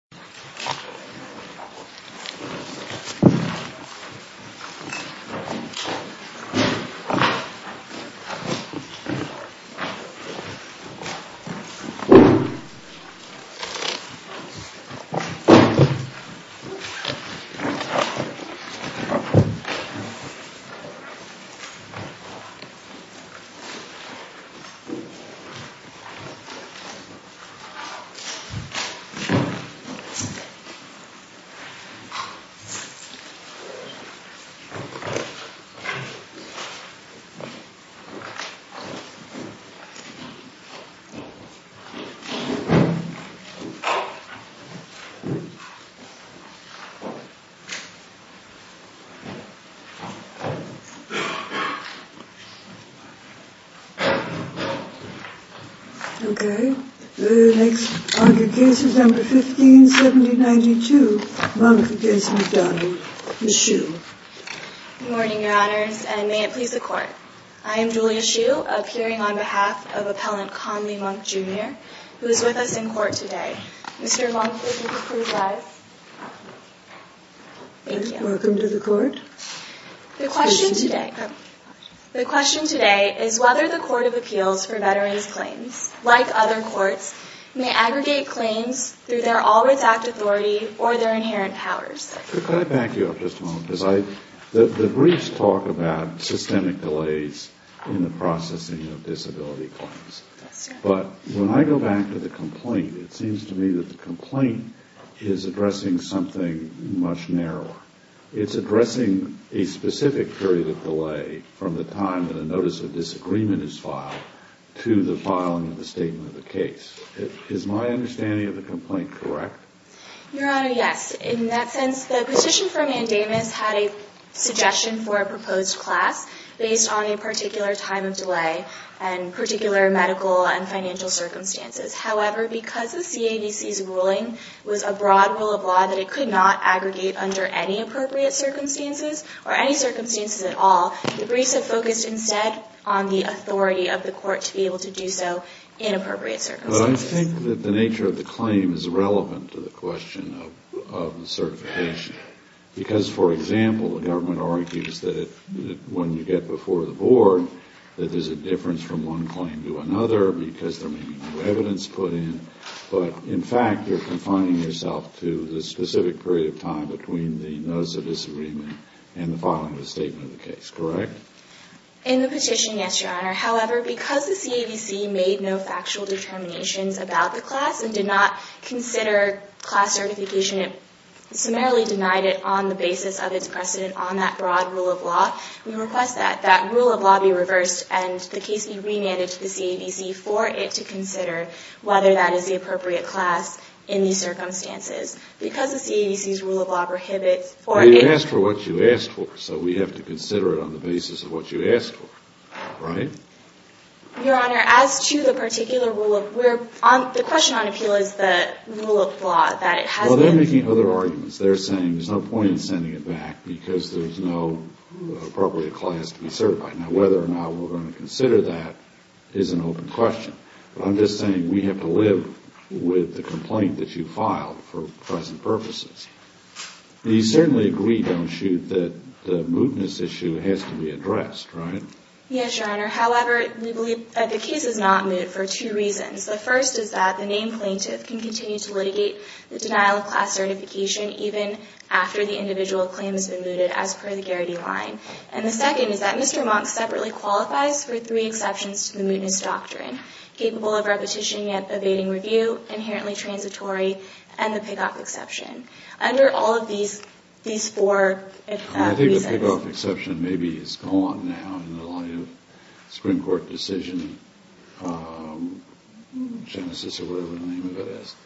15 St. Matthew's Parish, New Orleans, N.Y. 27th St. Louis, N.Y. 1792, Monk v. McDonough, Ms. Hsu. Good morning, Your Honors, and may it please the Court. I am Julia Hsu, appearing on behalf of Appellant Conley Monk, Jr., who is with us in court today. Mr. Monk, would you please rise? Thank you. Welcome to the Court. The question today is whether the Court of Appeals for Veterans' Claims, like other courts, may aggregate claims through their always-act authority or their inherent powers. Could I back you up just a moment? The briefs talk about systemic delays in the processing of disability claims. But when I go back to the complaint, it seems to me that the complaint is addressing something much narrower. It's addressing a specific period of delay from the time that a notice of disagreement is filed to the filing of the statement of the case. Is my understanding of the complaint correct? Your Honor, yes. In that sense, the petition for mandamus had a suggestion for a proposed class based on a particular time of delay and particular medical and financial circumstances. However, because the CAVC's ruling was a broad rule of law that it could not aggregate under any appropriate circumstances or any circumstances at all, the briefs have focused instead on the authority of the court to be able to do so in appropriate circumstances. Well, I think that the nature of the claim is relevant to the question of certification. Because, for example, the government argues that when you get before the board, that there's a difference from one claim to another because there may be new evidence put in. But in fact, you're confining yourself to the specific period of time between the notice of disagreement and the filing of the statement of the case, correct? In the petition, yes, Your Honor. However, because the CAVC made no factual determinations about the class and did not consider class certification, it summarily denied it on the basis of its precedent on that broad rule of law. We request that that rule of law be reversed and the case be remanded to the CAVC for it to consider whether that is the appropriate class in these circumstances. Because the CAVC's rule of law prohibits for it- Well, you asked for what you asked for, so we have to consider it on the basis of what you asked for, right? Your Honor, as to the particular rule of- the question on appeal is the rule of law that it has- Well, they're making other arguments. They're saying there's no point in sending it back because there's no appropriate class to be certified. Now, whether or not we're going to consider that is an open question. I'm just saying we have to live with the complaint that you filed for present purposes. You certainly agree, don't you, that the mootness issue has to be addressed, right? Yes, Your Honor. However, we believe that the case is not moot for two reasons. The first is that the named plaintiff can continue to litigate the denial of class certification even after the individual claim has been mooted as per the Garrity line. And the second is that Mr. Monk separately qualifies for three exceptions to the mootness doctrine, capable of repetition yet evading review, inherently transitory, and the pick-off exception. Under all of these four reasons- I think the pick-off exception maybe is gone now in the light of Supreme Court decision genesis or whatever the name of it is.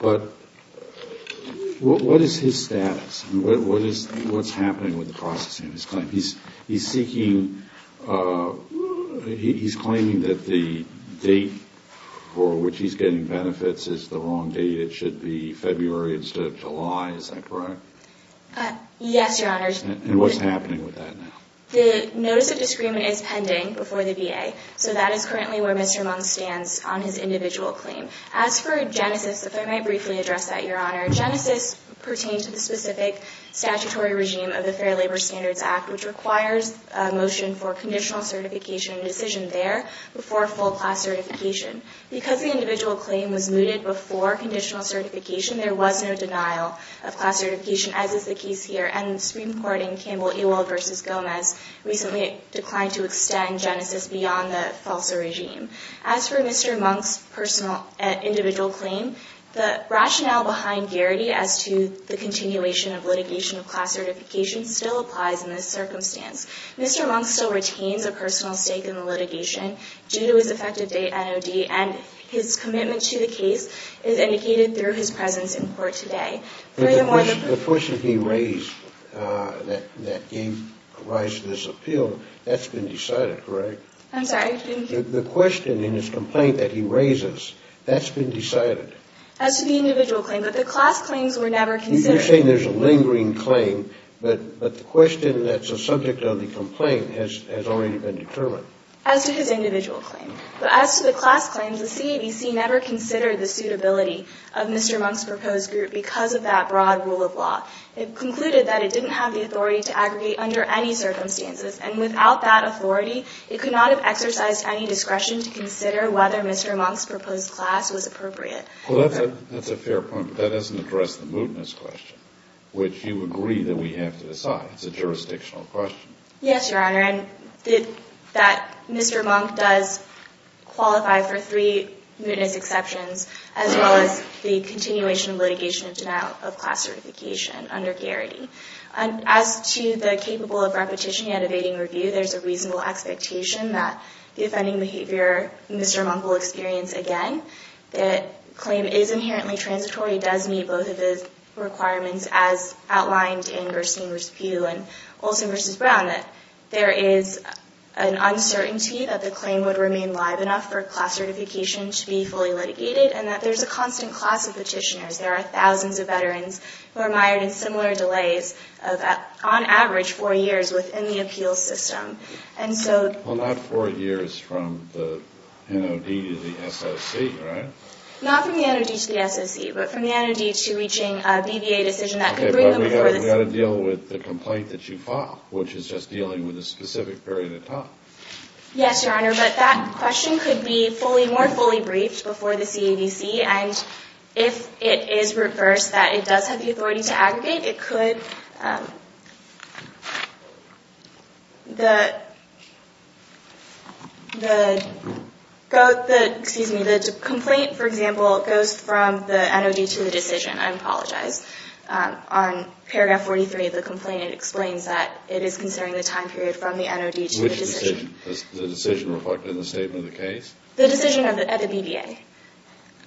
But what is his status? What's happening with the processing of his claim? He's claiming that the date for which he's getting benefits is the wrong date. It should be February instead of July. Is that correct? Yes, Your Honor. And what's happening with that now? The notice of disagreement is pending before the VA. So that is currently where Mr. Monk stands on his individual claim. As for genesis, if I might briefly address that, Your Honor, genesis pertains to the specific statutory regime of the Fair Labor Standards Act, which requires a motion for conditional certification and decision there before full class certification. Because the individual claim was mooted before conditional certification, there was no denial of class certification, as is the case here. And the Supreme Court in Campbell-Ewald v. Gomez recently declined to extend genesis beyond the FALSA regime. As for Mr. Monk's personal individual claim, the rationale behind Garrity as to the continuation of litigation of class certification still applies in this circumstance. Mr. Monk still retains a personal stake in the litigation due to his effective date NOD, and his commitment to the case is indicated through his presence in court today. The question he raised, that gave rise to this appeal, that's been decided, correct? I'm sorry? The question in his complaint that he raises, that's been decided. As to the individual claim, but the class claims were never considered. You're saying there's a lingering claim, but the question that's a subject of the complaint has already been determined. As to his individual claim, but as to the class claims, the CABC never considered the suitability of Mr. Monk's proposed group because of that broad rule of law. It concluded that it didn't have the authority to aggregate under any circumstances, and without that authority, it could not have exercised any discretion to consider whether Mr. Monk's proposed class was appropriate. Well, that's a fair point, but that doesn't address the mootness question, which you agree that we have to decide. It's a jurisdictional question. Yes, Your Honor, and that Mr. Monk does qualify for three mootness exceptions, as well as the continuation of litigation of denial of class certification under Garrity. As to the capable of repetition yet evading review, there's a reasonable expectation that the offending behavior Mr. Monk will experience again, that the claim is inherently transitory, does meet both of his requirements, as outlined in Gerstein v. Pew and Olson v. Brown, that there is an uncertainty that the claim would remain live enough for class certification to be fully litigated, and that there's a constant class of petitioners. There are thousands of veterans who are mired in similar delays of, on average, four years within the appeals system. Well, not four years from the NOD to the SOC, right? Not from the NOD to the SOC, but from the NOD to reaching a BVA decision that could bring them before the SOC. Okay, but we've got to deal with the complaint that you file, which is just dealing with a specific period of time. Yes, Your Honor, but that question could be more fully briefed before the CAVC, and if it is reversed, that it does have the authority to aggregate, it could. The complaint, for example, goes from the NOD to the decision. I apologize. On paragraph 43 of the complaint, it explains that it is considering the time period from the NOD to the decision. Which decision? Does the decision reflect in the statement of the case? The decision at the BVA.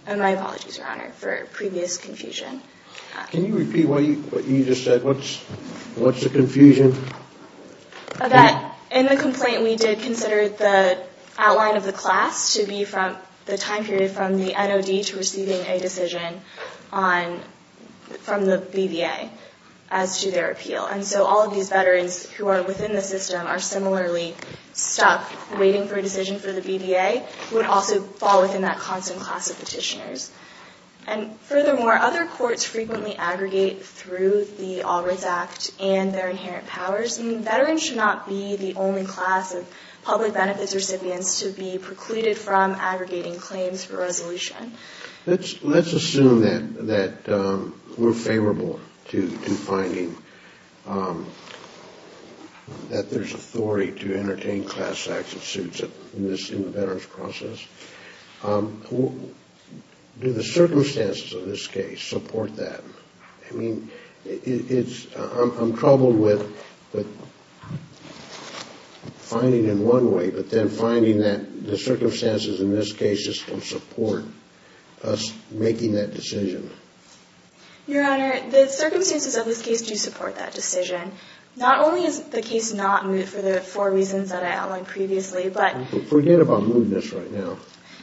And my apologies, Your Honor, for previous confusion. Can you repeat what you just said? What's the confusion? That in the complaint, we did consider the outline of the class to be from the time period from the NOD to receiving a decision from the BVA as to their appeal. And so all of these veterans who are within the system are similarly stuck waiting for a decision for the BVA, who would also fall within that constant class of petitioners. And furthermore, other courts frequently aggregate through the All Rights Act and their inherent powers. Veterans should not be the only class of public benefits recipients to be precluded from aggregating claims for resolution. Let's assume that we're favorable to finding that there's authority to entertain class action suits in the veterans' process. Do the circumstances of this case support that? I mean, I'm troubled with finding in one way, but then finding that the circumstances in this case just don't support us making that decision. Your Honor, the circumstances of this case do support that decision. Not only is the case not moot for the four reasons that I outlined previously, but... Forget about mootness right now.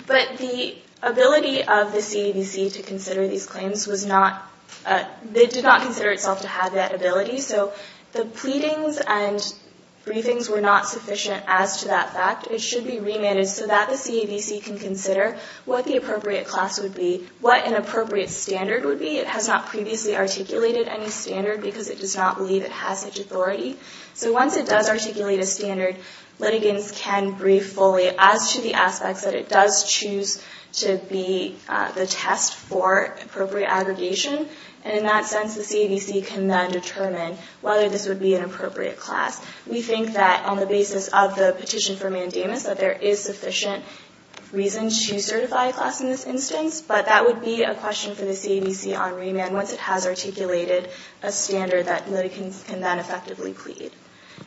But the ability of the CAVC to consider these claims was not... It did not consider itself to have that ability, so the pleadings and briefings were not sufficient as to that fact. It should be remanded so that the CAVC can consider what the appropriate class would be, what an appropriate standard would be. It has not previously articulated any standard because it does not believe it has such authority. So once it does articulate a standard, litigants can brief fully as to the aspects that it does choose to be the test for appropriate aggregation. And in that sense, the CAVC can then determine whether this would be an appropriate class. We think that on the basis of the petition for mandamus, that there is sufficient reason to certify a class in this instance. But that would be a question for the CAVC on remand once it has articulated a standard that litigants can then effectively plead.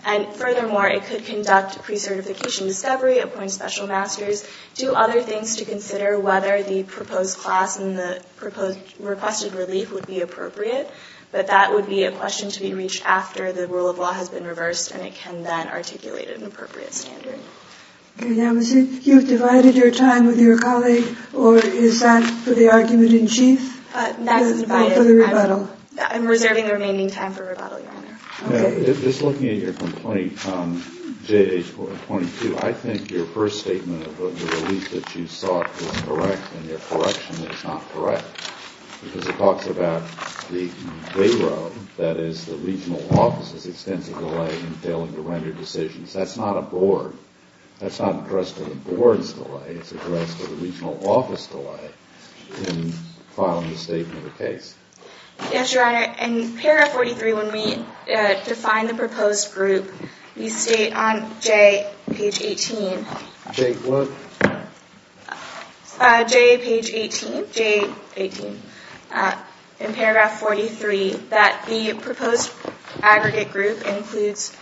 And furthermore, it could conduct pre-certification discovery, appoint special masters, do other things to consider whether the proposed class and the proposed requested relief would be appropriate. But that would be a question to be reached after the rule of law has been reversed and it can then articulate an appropriate standard. Okay. Now, you've divided your time with your colleague, or is that for the argument in chief? That's divided. For the rebuttal. I'm reserving the remaining time for rebuttal, Your Honor. Okay. Just looking at your complaint, J.H. 22, I think your first statement of the relief that you sought was correct, and your correction is not correct. Because it talks about the day road, that is, the regional offices extensive delay in failing to render decisions. That's not a board. That's not addressed to the board's delay. It's addressed to the regional office delay in filing a statement of the case. Yes, Your Honor. In paragraph 43, when we define the proposed group, we state on J, page 18. J what? J, page 18. J18. In paragraph 43, that the proposed aggregate group includes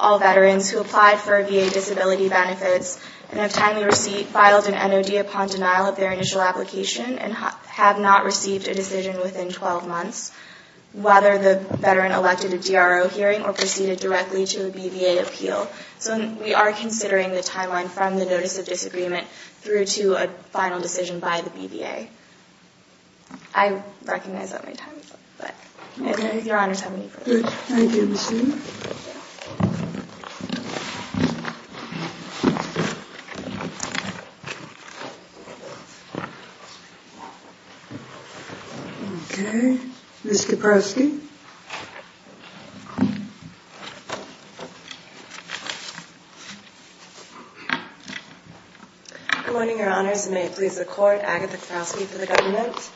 all veterans who applied for VA disability benefits and have timely receipt, filed an NOD upon denial of their initial application, and have not received a decision within 12 months, whether the veteran elected a DRO hearing or proceeded directly to a BVA appeal. So we are considering the timeline from the notice of disagreement through to a final decision by the BVA. I recognize that my time is up. Okay. But if Your Honor is happy to proceed. Thank you. Okay. Ms. Kaprowski. Good morning, Your Honors, and may it please the Court. Agatha Kaprowski for the government.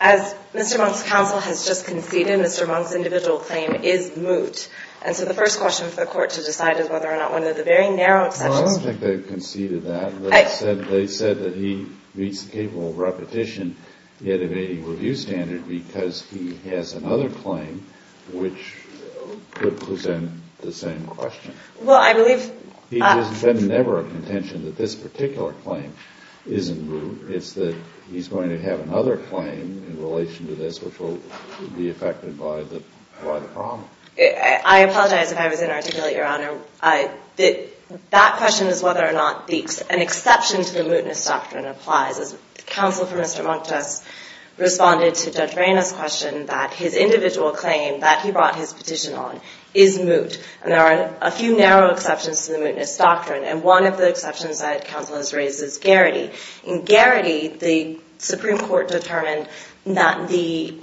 As Mr. Monk's counsel has just conceded, Mr. Monk's individual claim is moot. And so the first question for the Court to decide is whether or not one of the very narrow exceptions Well, I don't think they conceded that. They said that he meets the capable repetition yet evading review standard because he has another claim. Which would present the same question. Well, I believe It has been never a contention that this particular claim isn't moot. It's that he's going to have another claim in relation to this which will be affected by the problem. I apologize if I was inarticulate, Your Honor. That question is whether or not an exception to the mootness doctrine applies. Counsel for Mr. Monk just responded to Judge Reyna's question that his individual claim that he brought his petition on is moot. And there are a few narrow exceptions to the mootness doctrine. And one of the exceptions that counsel has raised is Garrity. In Garrity, the Supreme Court determined that the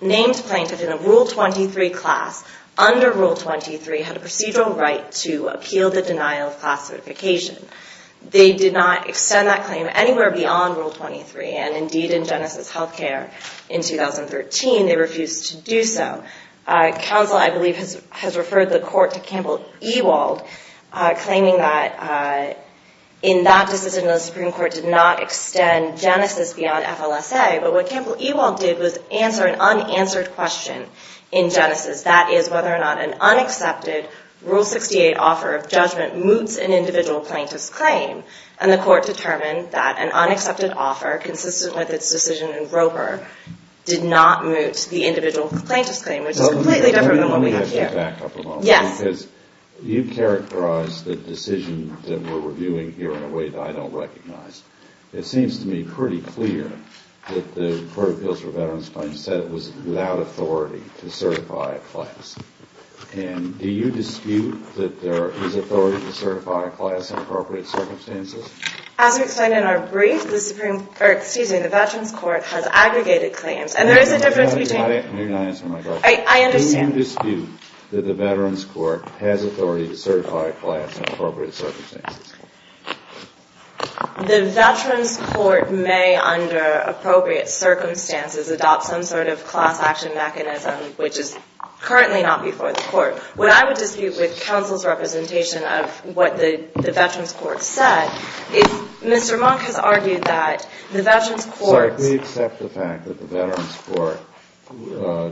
names plaintiff in a Rule 23 class under Rule 23 had a procedural right to appeal the denial of class certification. They did not extend that claim anywhere beyond Rule 23. And indeed, in Genesis Healthcare in 2013, they refused to do so. Counsel, I believe, has referred the court to Campbell Ewald claiming that in that decision, the Supreme Court did not extend Genesis beyond FLSA. But what Campbell Ewald did was answer an unanswered question in Genesis. That is whether or not an unaccepted Rule 68 offer of judgment moots an individual plaintiff's claim. And the court determined that an unaccepted offer consistent with its decision in Roper did not moot the individual plaintiff's claim, which is completely different than what we have here. Let me back up a moment. Yes. Because you characterized the decision that we're reviewing here in a way that I don't recognize. It seems to me pretty clear that the Court of Appeals for Veterans Claims said it was without authority to certify a class. And do you dispute that there is authority to certify a class in appropriate circumstances? As we explained in our brief, the Veterans Court has aggregated claims. And there is a difference between – You're not answering my question. I understand. Do you dispute that the Veterans Court has authority to certify a class in appropriate circumstances? The Veterans Court may, under appropriate circumstances, adopt some sort of class action mechanism, which is currently not before the Court. What I would dispute with counsel's representation of what the Veterans Court said is Mr. Monk has argued that the Veterans Court – So if we accept the fact that the Veterans Court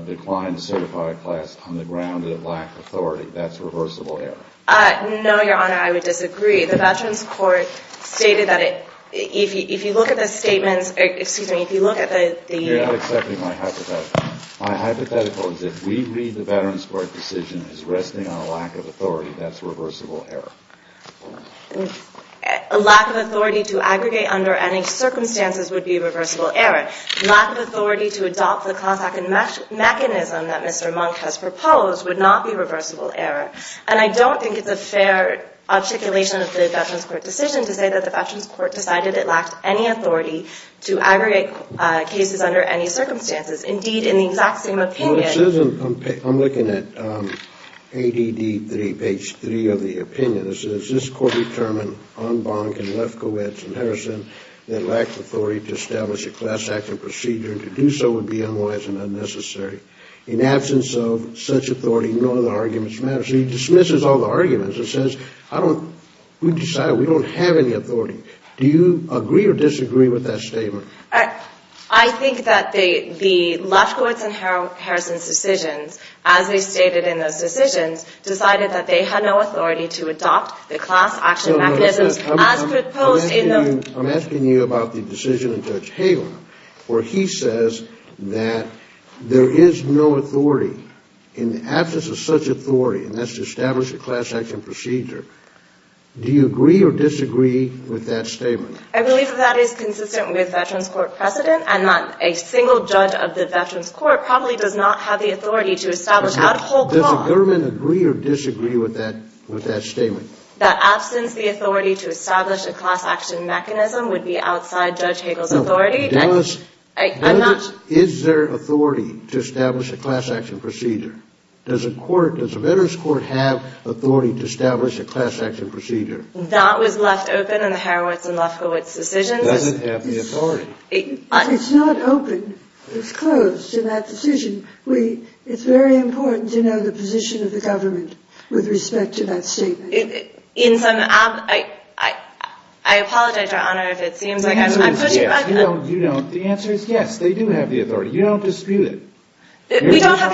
declined to certify a class on the ground that it lacked authority, that's reversible error? No, Your Honor, I would disagree. The Veterans Court stated that if you look at the statements – excuse me, if you look at the – You're not accepting my hypothetical. My hypothetical is if we read the Veterans Court decision as resting on a lack of authority, that's reversible error. A lack of authority to aggregate under any circumstances would be reversible error. Lack of authority to adopt the class action mechanism that Mr. Monk has proposed would not be reversible error. And I don't think it's a fair articulation of the Veterans Court decision to say that the Veterans Court decided it lacked any authority to aggregate cases under any circumstances. Indeed, in the exact same opinion – Well, this isn't – I'm looking at ADD 3, page 3 of the opinion. It says this Court determined on Bonk and Lefkowitz and Harrison that lack of authority to establish a class action procedure and to do so would be unwise and unnecessary. In absence of such authority, none of the arguments matter. So he dismisses all the arguments and says, I don't – we decided we don't have any authority. Do you agree or disagree with that statement? I think that the Lefkowitz and Harrison's decisions, as they stated in those decisions, decided that they had no authority to adopt the class action mechanisms as proposed in the – I'm asking you about the decision of Judge Hagan, where he says that there is no authority. In absence of such authority, and that's to establish a class action procedure, do you agree or disagree with that statement? I believe that that is consistent with Veterans Court precedent, and that a single judge of the Veterans Court probably does not have the authority to establish that whole clause – Does the government agree or disagree with that statement? – that absence of the authority to establish a class action mechanism would be outside Judge Hagel's authority? Does – I'm not – Is there authority to establish a class action procedure? Does a court – does a Veterans Court have authority to establish a class action procedure? That was left open in the Harowitz and Lefkowitz decisions. It doesn't have the authority. It's not open. It's closed in that decision. It's very important to know the position of the government with respect to that statement. In some – I apologize, Your Honor, if it seems like I'm pushing – The answer is yes. You don't – the answer is yes. They do have the authority. You don't dispute it. We don't have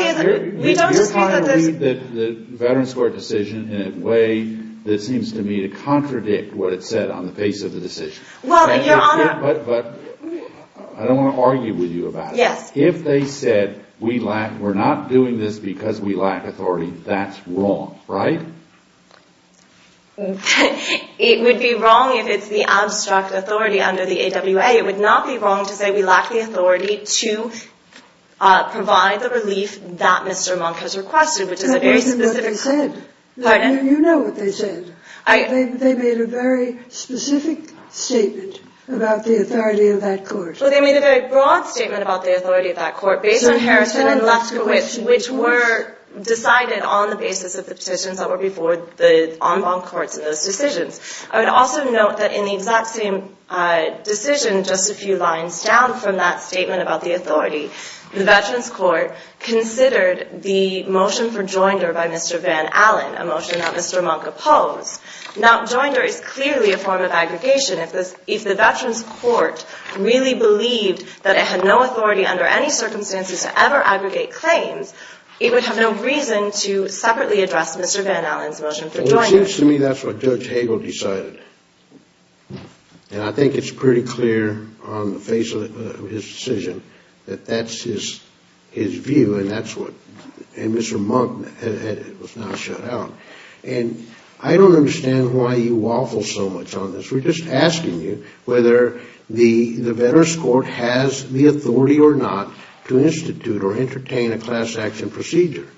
– we don't dispute that there's – You're trying to read the Veterans Court decision in a way that seems to me to contradict what it said on the face of the decision. Well, Your Honor – But I don't want to argue with you about it. Yes. If they said we lack – we're not doing this because we lack authority, that's wrong, right? It would be wrong if it's the abstract authority under the AWA. It would not be wrong to say we lack the authority to provide the relief that Mr. Monk has requested, which is a very specific – That isn't what they said. Pardon? You know what they said. I – They made a very specific statement about the authority of that court. Well, they made a very broad statement about the authority of that court based on Harrison and Lefkowitz, which were decided on the basis of the decisions that were before the en banc courts in those decisions. I would also note that in the exact same decision, just a few lines down from that statement about the authority, the Veterans Court considered the motion for joinder by Mr. Van Allen, a motion that Mr. Monk opposed. Now, joinder is clearly a form of aggregation. If the Veterans Court really believed that it had no authority under any circumstances to ever aggregate claims, it would have no reason to separately address Mr. Van Allen's motion for joinder. Well, it seems to me that's what Judge Hagel decided. And I think it's pretty clear on the face of his decision that that's his view, and that's what – and Mr. Monk was now shut out. And I don't understand why you waffle so much on this. We're just asking you whether the Veterans Court has the authority or not to institute or entertain a class action procedure.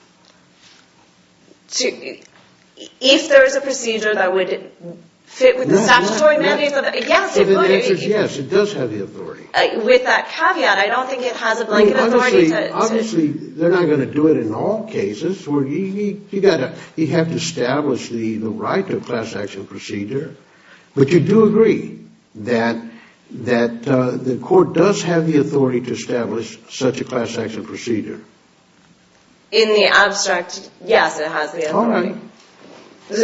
If there is a procedure that would fit with the statutory mandates of – yes, it would. The answer is yes, it does have the authority. With that caveat, I don't think it has a blanket authority to – Obviously, they're not going to do it in all cases where you have to establish the right to a class action procedure. But you do agree that the court does have the authority to establish such a class action procedure. In the abstract, yes, it has the authority. All right.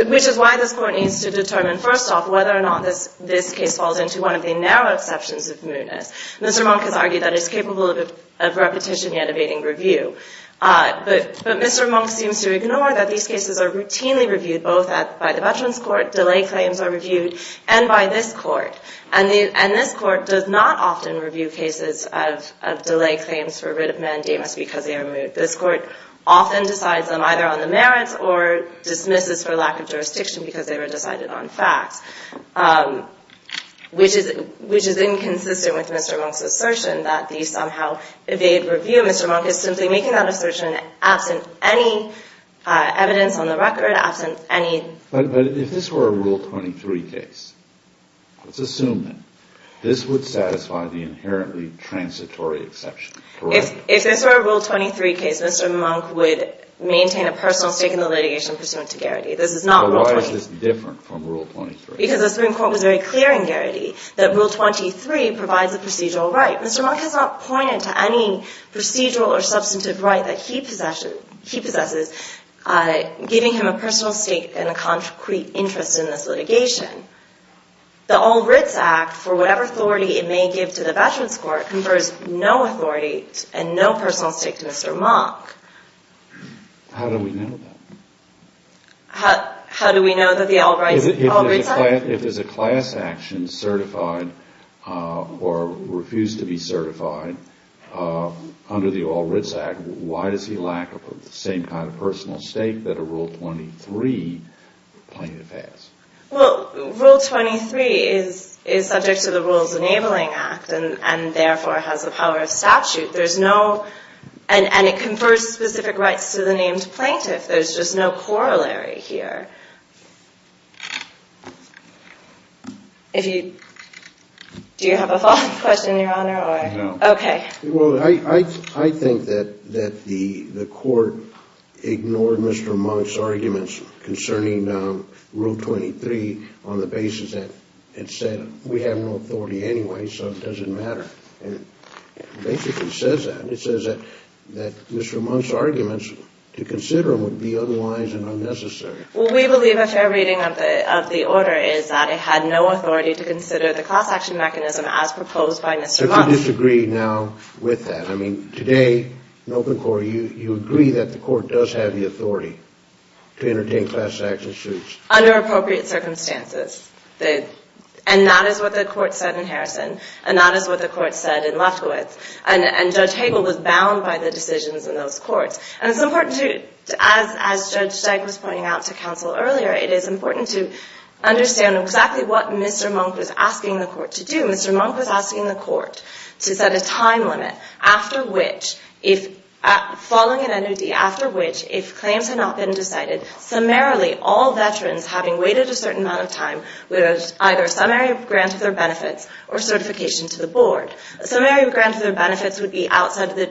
Which is why this Court needs to determine, first off, whether or not this case falls into one of the narrow exceptions of Moonis. Mr. Monk has argued that it's capable of repetition yet evading review. But Mr. Monk seems to ignore that these cases are routinely reviewed both by the Veterans Court, delay claims are reviewed, and by this Court. And this Court does not often review cases of delay claims for writ of mandamus because they are removed. This Court often decides them either on the merits or dismisses for lack of jurisdiction because they were decided on facts, which is inconsistent with Mr. Monk's assertion that these somehow evade review. Mr. Monk is simply making that assertion absent any evidence on the record, absent any – But if this were a Rule 23 case, let's assume that this would satisfy the inherently transitory exception, correct? If this were a Rule 23 case, Mr. Monk would maintain a personal stake in the litigation pursuant to Garrity. This is not Rule 23. Why is this different from Rule 23? Because the Supreme Court was very clear in Garrity that Rule 23 provides a procedural right. Mr. Monk has not pointed to any procedural or substantive right that he possesses, giving him a personal stake and a concrete interest in this litigation. The All Writs Act, for whatever authority it may give to the Veterans Court, confers no authority and no personal stake to Mr. Monk. How do we know that? How do we know that the All Writs Act? If there's a class action certified or refused to be certified under the All Writs Act, why does he lack the same kind of personal stake that a Rule 23 plaintiff has? Well, Rule 23 is subject to the Rules Enabling Act and therefore has the power of statute. There's no – and it confers specific rights to the named plaintiff. There's just no corollary here. If you – do you have a follow-up question, Your Honor? No. Okay. Well, I think that the court ignored Mr. Monk's arguments concerning Rule 23 on the basis that it said we have no authority anyway, so it doesn't matter. It basically says that. It says that Mr. Monk's arguments to consider would be unwise and unnecessary. Well, we believe a fair reading of the order is that it had no authority to consider the class action mechanism as proposed by Mr. Monk. So do you disagree now with that? I mean, today, in open court, you agree that the court does have the authority to entertain class action suits. Under appropriate circumstances. And that is what the court said in Harrison, and that is what the court said in Lefkowitz. And Judge Hagel was bound by the decisions in those courts. And it's important to – as Judge Steig was pointing out to counsel earlier, it is important to understand exactly what Mr. Monk was asking the court to do. Mr. Monk was asking the court to set a time limit after which, following an NOD, after which, if claims had not been decided, summarily all veterans having waited a certain amount of time would have either a summary grant of their benefits or certification to the board. A summary grant of their benefits would be outside the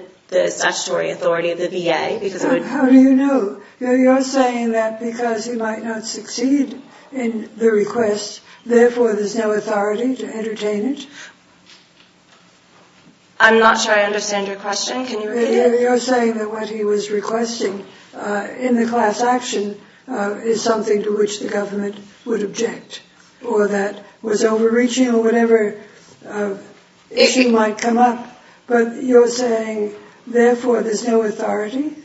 statutory authority of the VA because it would – How do you know? You're saying that because he might not succeed in the request, therefore, there's no authority to entertain it? I'm not sure I understand your question. Can you repeat it? You're saying that what he was requesting in the class action is something to which the government would object or that was overreaching or whatever issue might come up. But you're saying, therefore, there's no authority?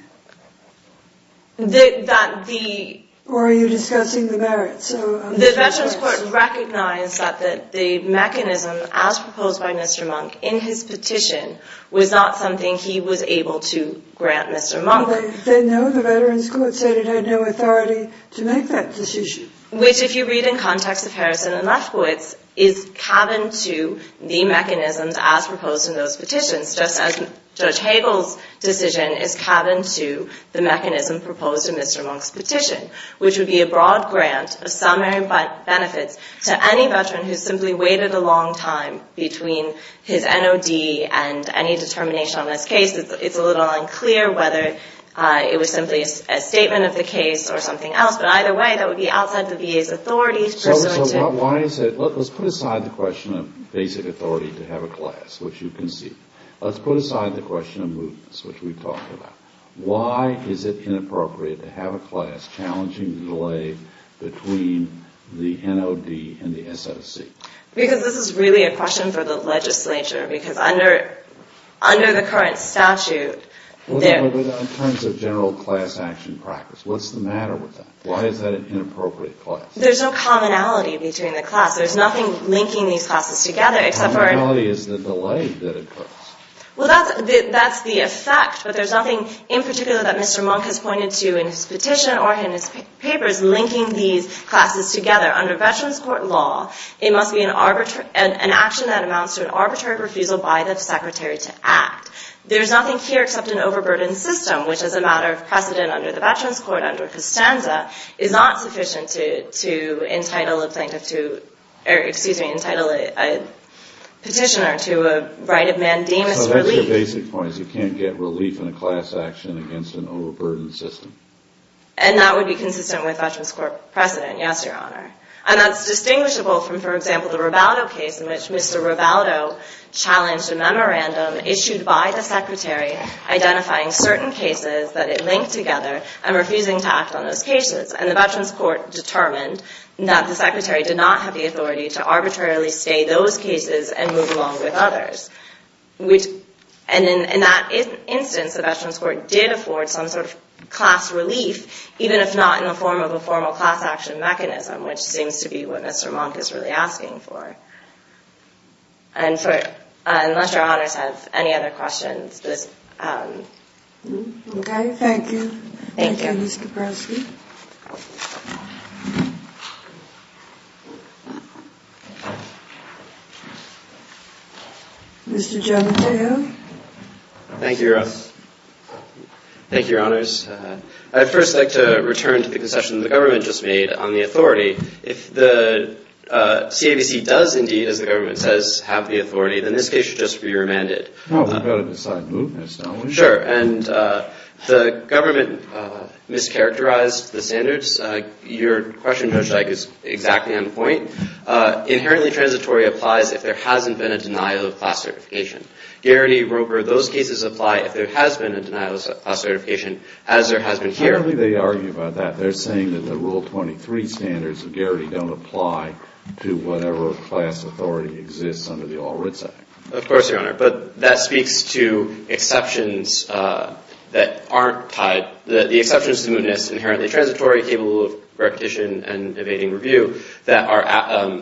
That the – Or are you discussing the merits? The Veterans Court recognized that the mechanism as proposed by Mr. Monk in his petition was not something he was able to grant Mr. Monk. No, the Veterans Court said it had no authority to make that decision. Which, if you read in context of Harrison and Lefkowitz, is cabin to the mechanisms as proposed in those petitions, just as Judge Hagel's decision is cabin to the mechanism proposed in Mr. Monk's petition, which would be a broad grant of summary benefits to any veteran who simply waited a long time between his NOD and any determination on this case. It's a little unclear whether it was simply a statement of the case or something else. But either way, that would be outside the VA's authority. So why is it – let's put aside the question of basic authority to have a class, which you concede. Let's put aside the question of movements, which we've talked about. Why is it inappropriate to have a class challenging the delay between the NOD and the SOC? Because this is really a question for the legislature. Because under the current statute – But in terms of general class action practice, what's the matter with that? Why is that an inappropriate class? There's no commonality between the class. There's nothing linking these classes together except for – Commonality is the delay that occurs. Well, that's the effect. But there's nothing in particular that Mr. Monk has pointed to in his petition or in his papers linking these classes together. Under Veterans Court law, it must be an action that amounts to an arbitrary refusal by the Secretary to act. There's nothing here except an overburdened system, which as a matter of precedent under the Veterans Court, under Costanza, is not sufficient to entitle a petitioner to a right of mandamus relief. So that's your basic point, is you can't get relief in a class action against an overburdened system. And that would be consistent with Veterans Court precedent, yes, Your Honor. And that's distinguishable from, for example, the Rivaldo case in which Mr. Rivaldo challenged a memorandum issued by the Secretary identifying certain cases that it linked together and refusing to act on those cases. And the Veterans Court determined that the Secretary did not have the authority to arbitrarily stay those cases and move along with others. And in that instance, the Veterans Court did afford some sort of class relief, even if not in the form of a formal class action mechanism, which seems to be what Mr. Monk is really asking for. Unless Your Honors have any other questions. Okay, thank you. Thank you, Ms. Kaprosky. Mr. Giammatteo. Thank you, Your Honors. I'd first like to return to the concession the government just made on the authority. If the CAVC does indeed, as the government says, have the authority, then this case should just be remanded. Well, we've got to decide movements, don't we? Sure. And the government mischaracterized the standards. Your question, Judge Dyke, is exactly on point. Inherently transitory applies if there hasn't been a denial of class certification. Garrity, Roper, those cases apply if there has been a denial of class certification, as there has been here. Apparently they argue about that. They're saying that the Rule 23 standards of Garrity don't apply to whatever class authority exists under the All Writs Act. Of course, Your Honor. But that speaks to exceptions that aren't tied. The exceptions to mootness, inherently transitory, capable of repetition and evading review, that are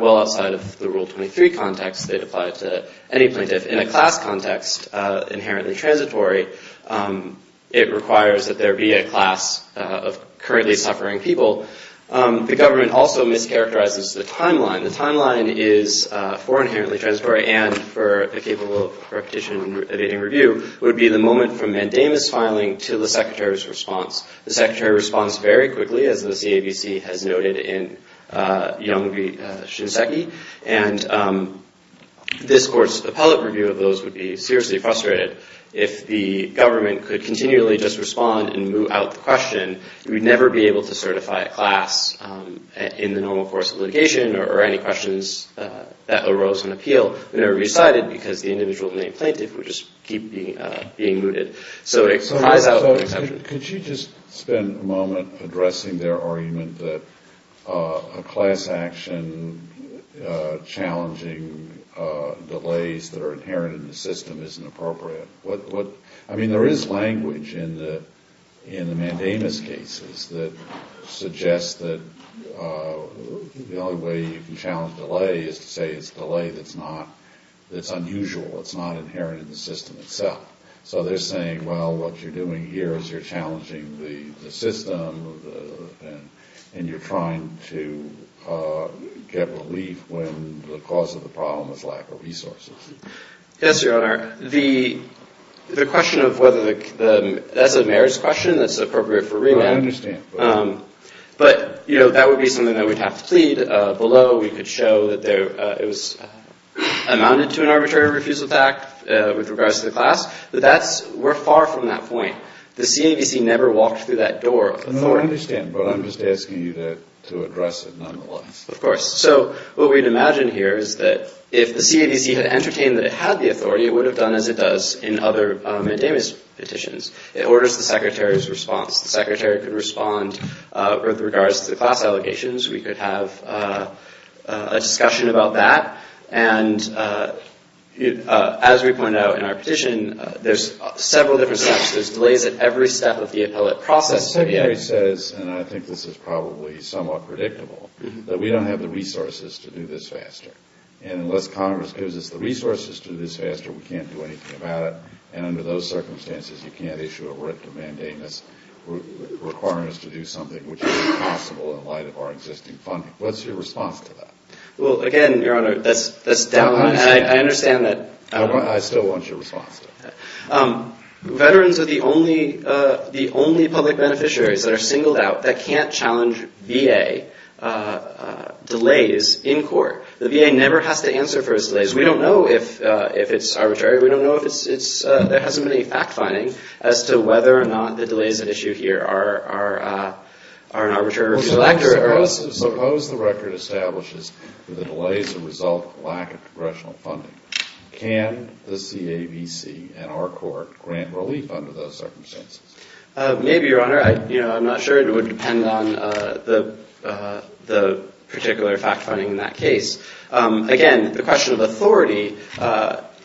well outside of the Rule 23 context that apply to any plaintiff. In a class context, inherently transitory, it requires that there be a class of currently suffering people. The government also mischaracterizes the timeline. The timeline is, for inherently transitory and for the capable of repetition and evading review, would be the moment from mandamus filing to the Secretary's response. The Secretary responds very quickly, as the CAVC has noted in Young v. Shinseki. And this Court's appellate review of those would be seriously frustrated. If the government could continually just respond and moot out the question, we'd never be able to certify a class in the normal course of litigation or any questions that arose in appeal. We'd never be decided because the individual named plaintiff would just keep being mooted. So it flies out of the exception. Could you just spend a moment addressing their argument that a class action challenging delays that are inherent in the system isn't appropriate? I mean, there is language in the mandamus cases that suggests that the only way you can challenge delay is to say it's a delay that's unusual, that's not inherent in the system itself. So they're saying, well, what you're doing here is you're challenging the system and you're trying to get relief when the cause of the problem is lack of resources. Yes, Your Honor. The question of whether the – that's a mayor's question that's appropriate for remand. I understand. But, you know, that would be something that we'd have to plead. We could show that there – it was – amounted to an arbitrary refusal to act with regards to the class. But that's – we're far from that point. The CAVC never walked through that door of authority. No, I understand. But I'm just asking you to address it nonetheless. Of course. So what we'd imagine here is that if the CAVC had entertained that it had the authority, it would have done as it does in other mandamus petitions. It orders the secretary's response. The secretary could respond with regards to the class allegations. We could have a discussion about that. And as we pointed out in our petition, there's several different steps. There's delays at every step of the appellate process. The secretary says – and I think this is probably somewhat predictable – that we don't have the resources to do this faster. And unless Congress gives us the resources to do this faster, we can't do anything about it. And under those circumstances, you can't issue a written mandamus requiring us to do something which is impossible in light of our existing funding. What's your response to that? Well, again, Your Honor, that's downright – and I understand that – I still want your response to that. Veterans are the only public beneficiaries that are singled out that can't challenge VA delays in court. The VA never has to answer for its delays. We don't know if it's arbitrary. We don't know if it's – there hasn't been any fact-finding as to whether or not the delays at issue here are an arbitrary reflector. Suppose the record establishes that the delays are a result of lack of congressional funding. Can the CAVC and our court grant relief under those circumstances? Maybe, Your Honor. I'm not sure. It would depend on the particular fact-finding in that case. Again, the question of authority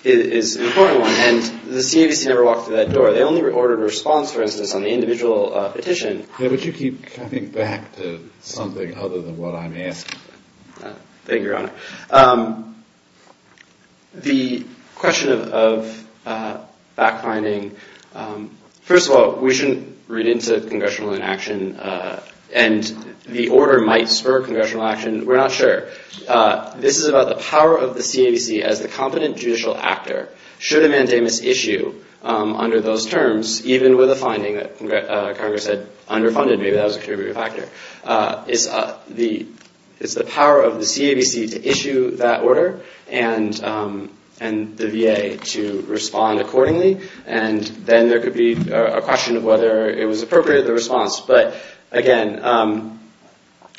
is an important one, and the CAVC never walked through that door. They only ordered a response, for instance, on the individual petition. Yeah, but you keep coming back to something other than what I'm asking. Thank you, Your Honor. The question of fact-finding – first of all, we shouldn't read into congressional inaction, and the order might spur congressional action. We're not sure. This is about the power of the CAVC as the competent judicial actor. Should a mandamus issue under those terms, even with a finding that Congress had underfunded? Maybe that was a contributing factor. It's the power of the CAVC to issue that order and the VA to respond accordingly, and then there could be a question of whether it was appropriate, the response. But, again,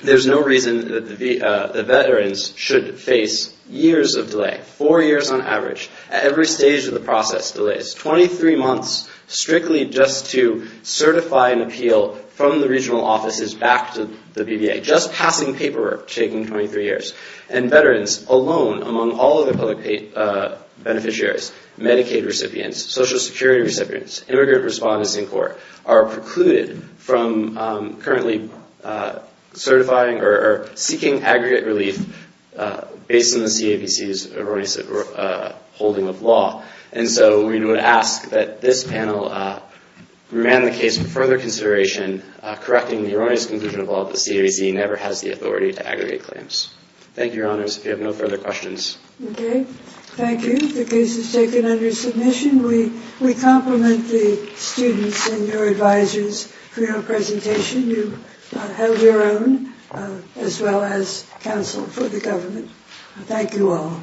there's no reason that the veterans should face years of delay, four years on average at every stage of the process delays, 23 months strictly just to certify and appeal from the regional offices back to the VBA, just passing paperwork, taking 23 years. And veterans alone, among all other public beneficiaries, Medicaid recipients, Social Security recipients, immigrant respondents in court, are precluded from currently certifying or seeking aggregate relief based on the CAVC's erroneous holding of law. And so we would ask that this panel remand the case for further consideration, correcting the erroneous conclusion of law that the CAVC never has the authority to aggregate claims. Thank you, Your Honors. If you have no further questions. Okay. Thank you. The case is taken under submission. We compliment the students and your advisors for your presentation. You have your own, as well as counsel for the government. Thank you all.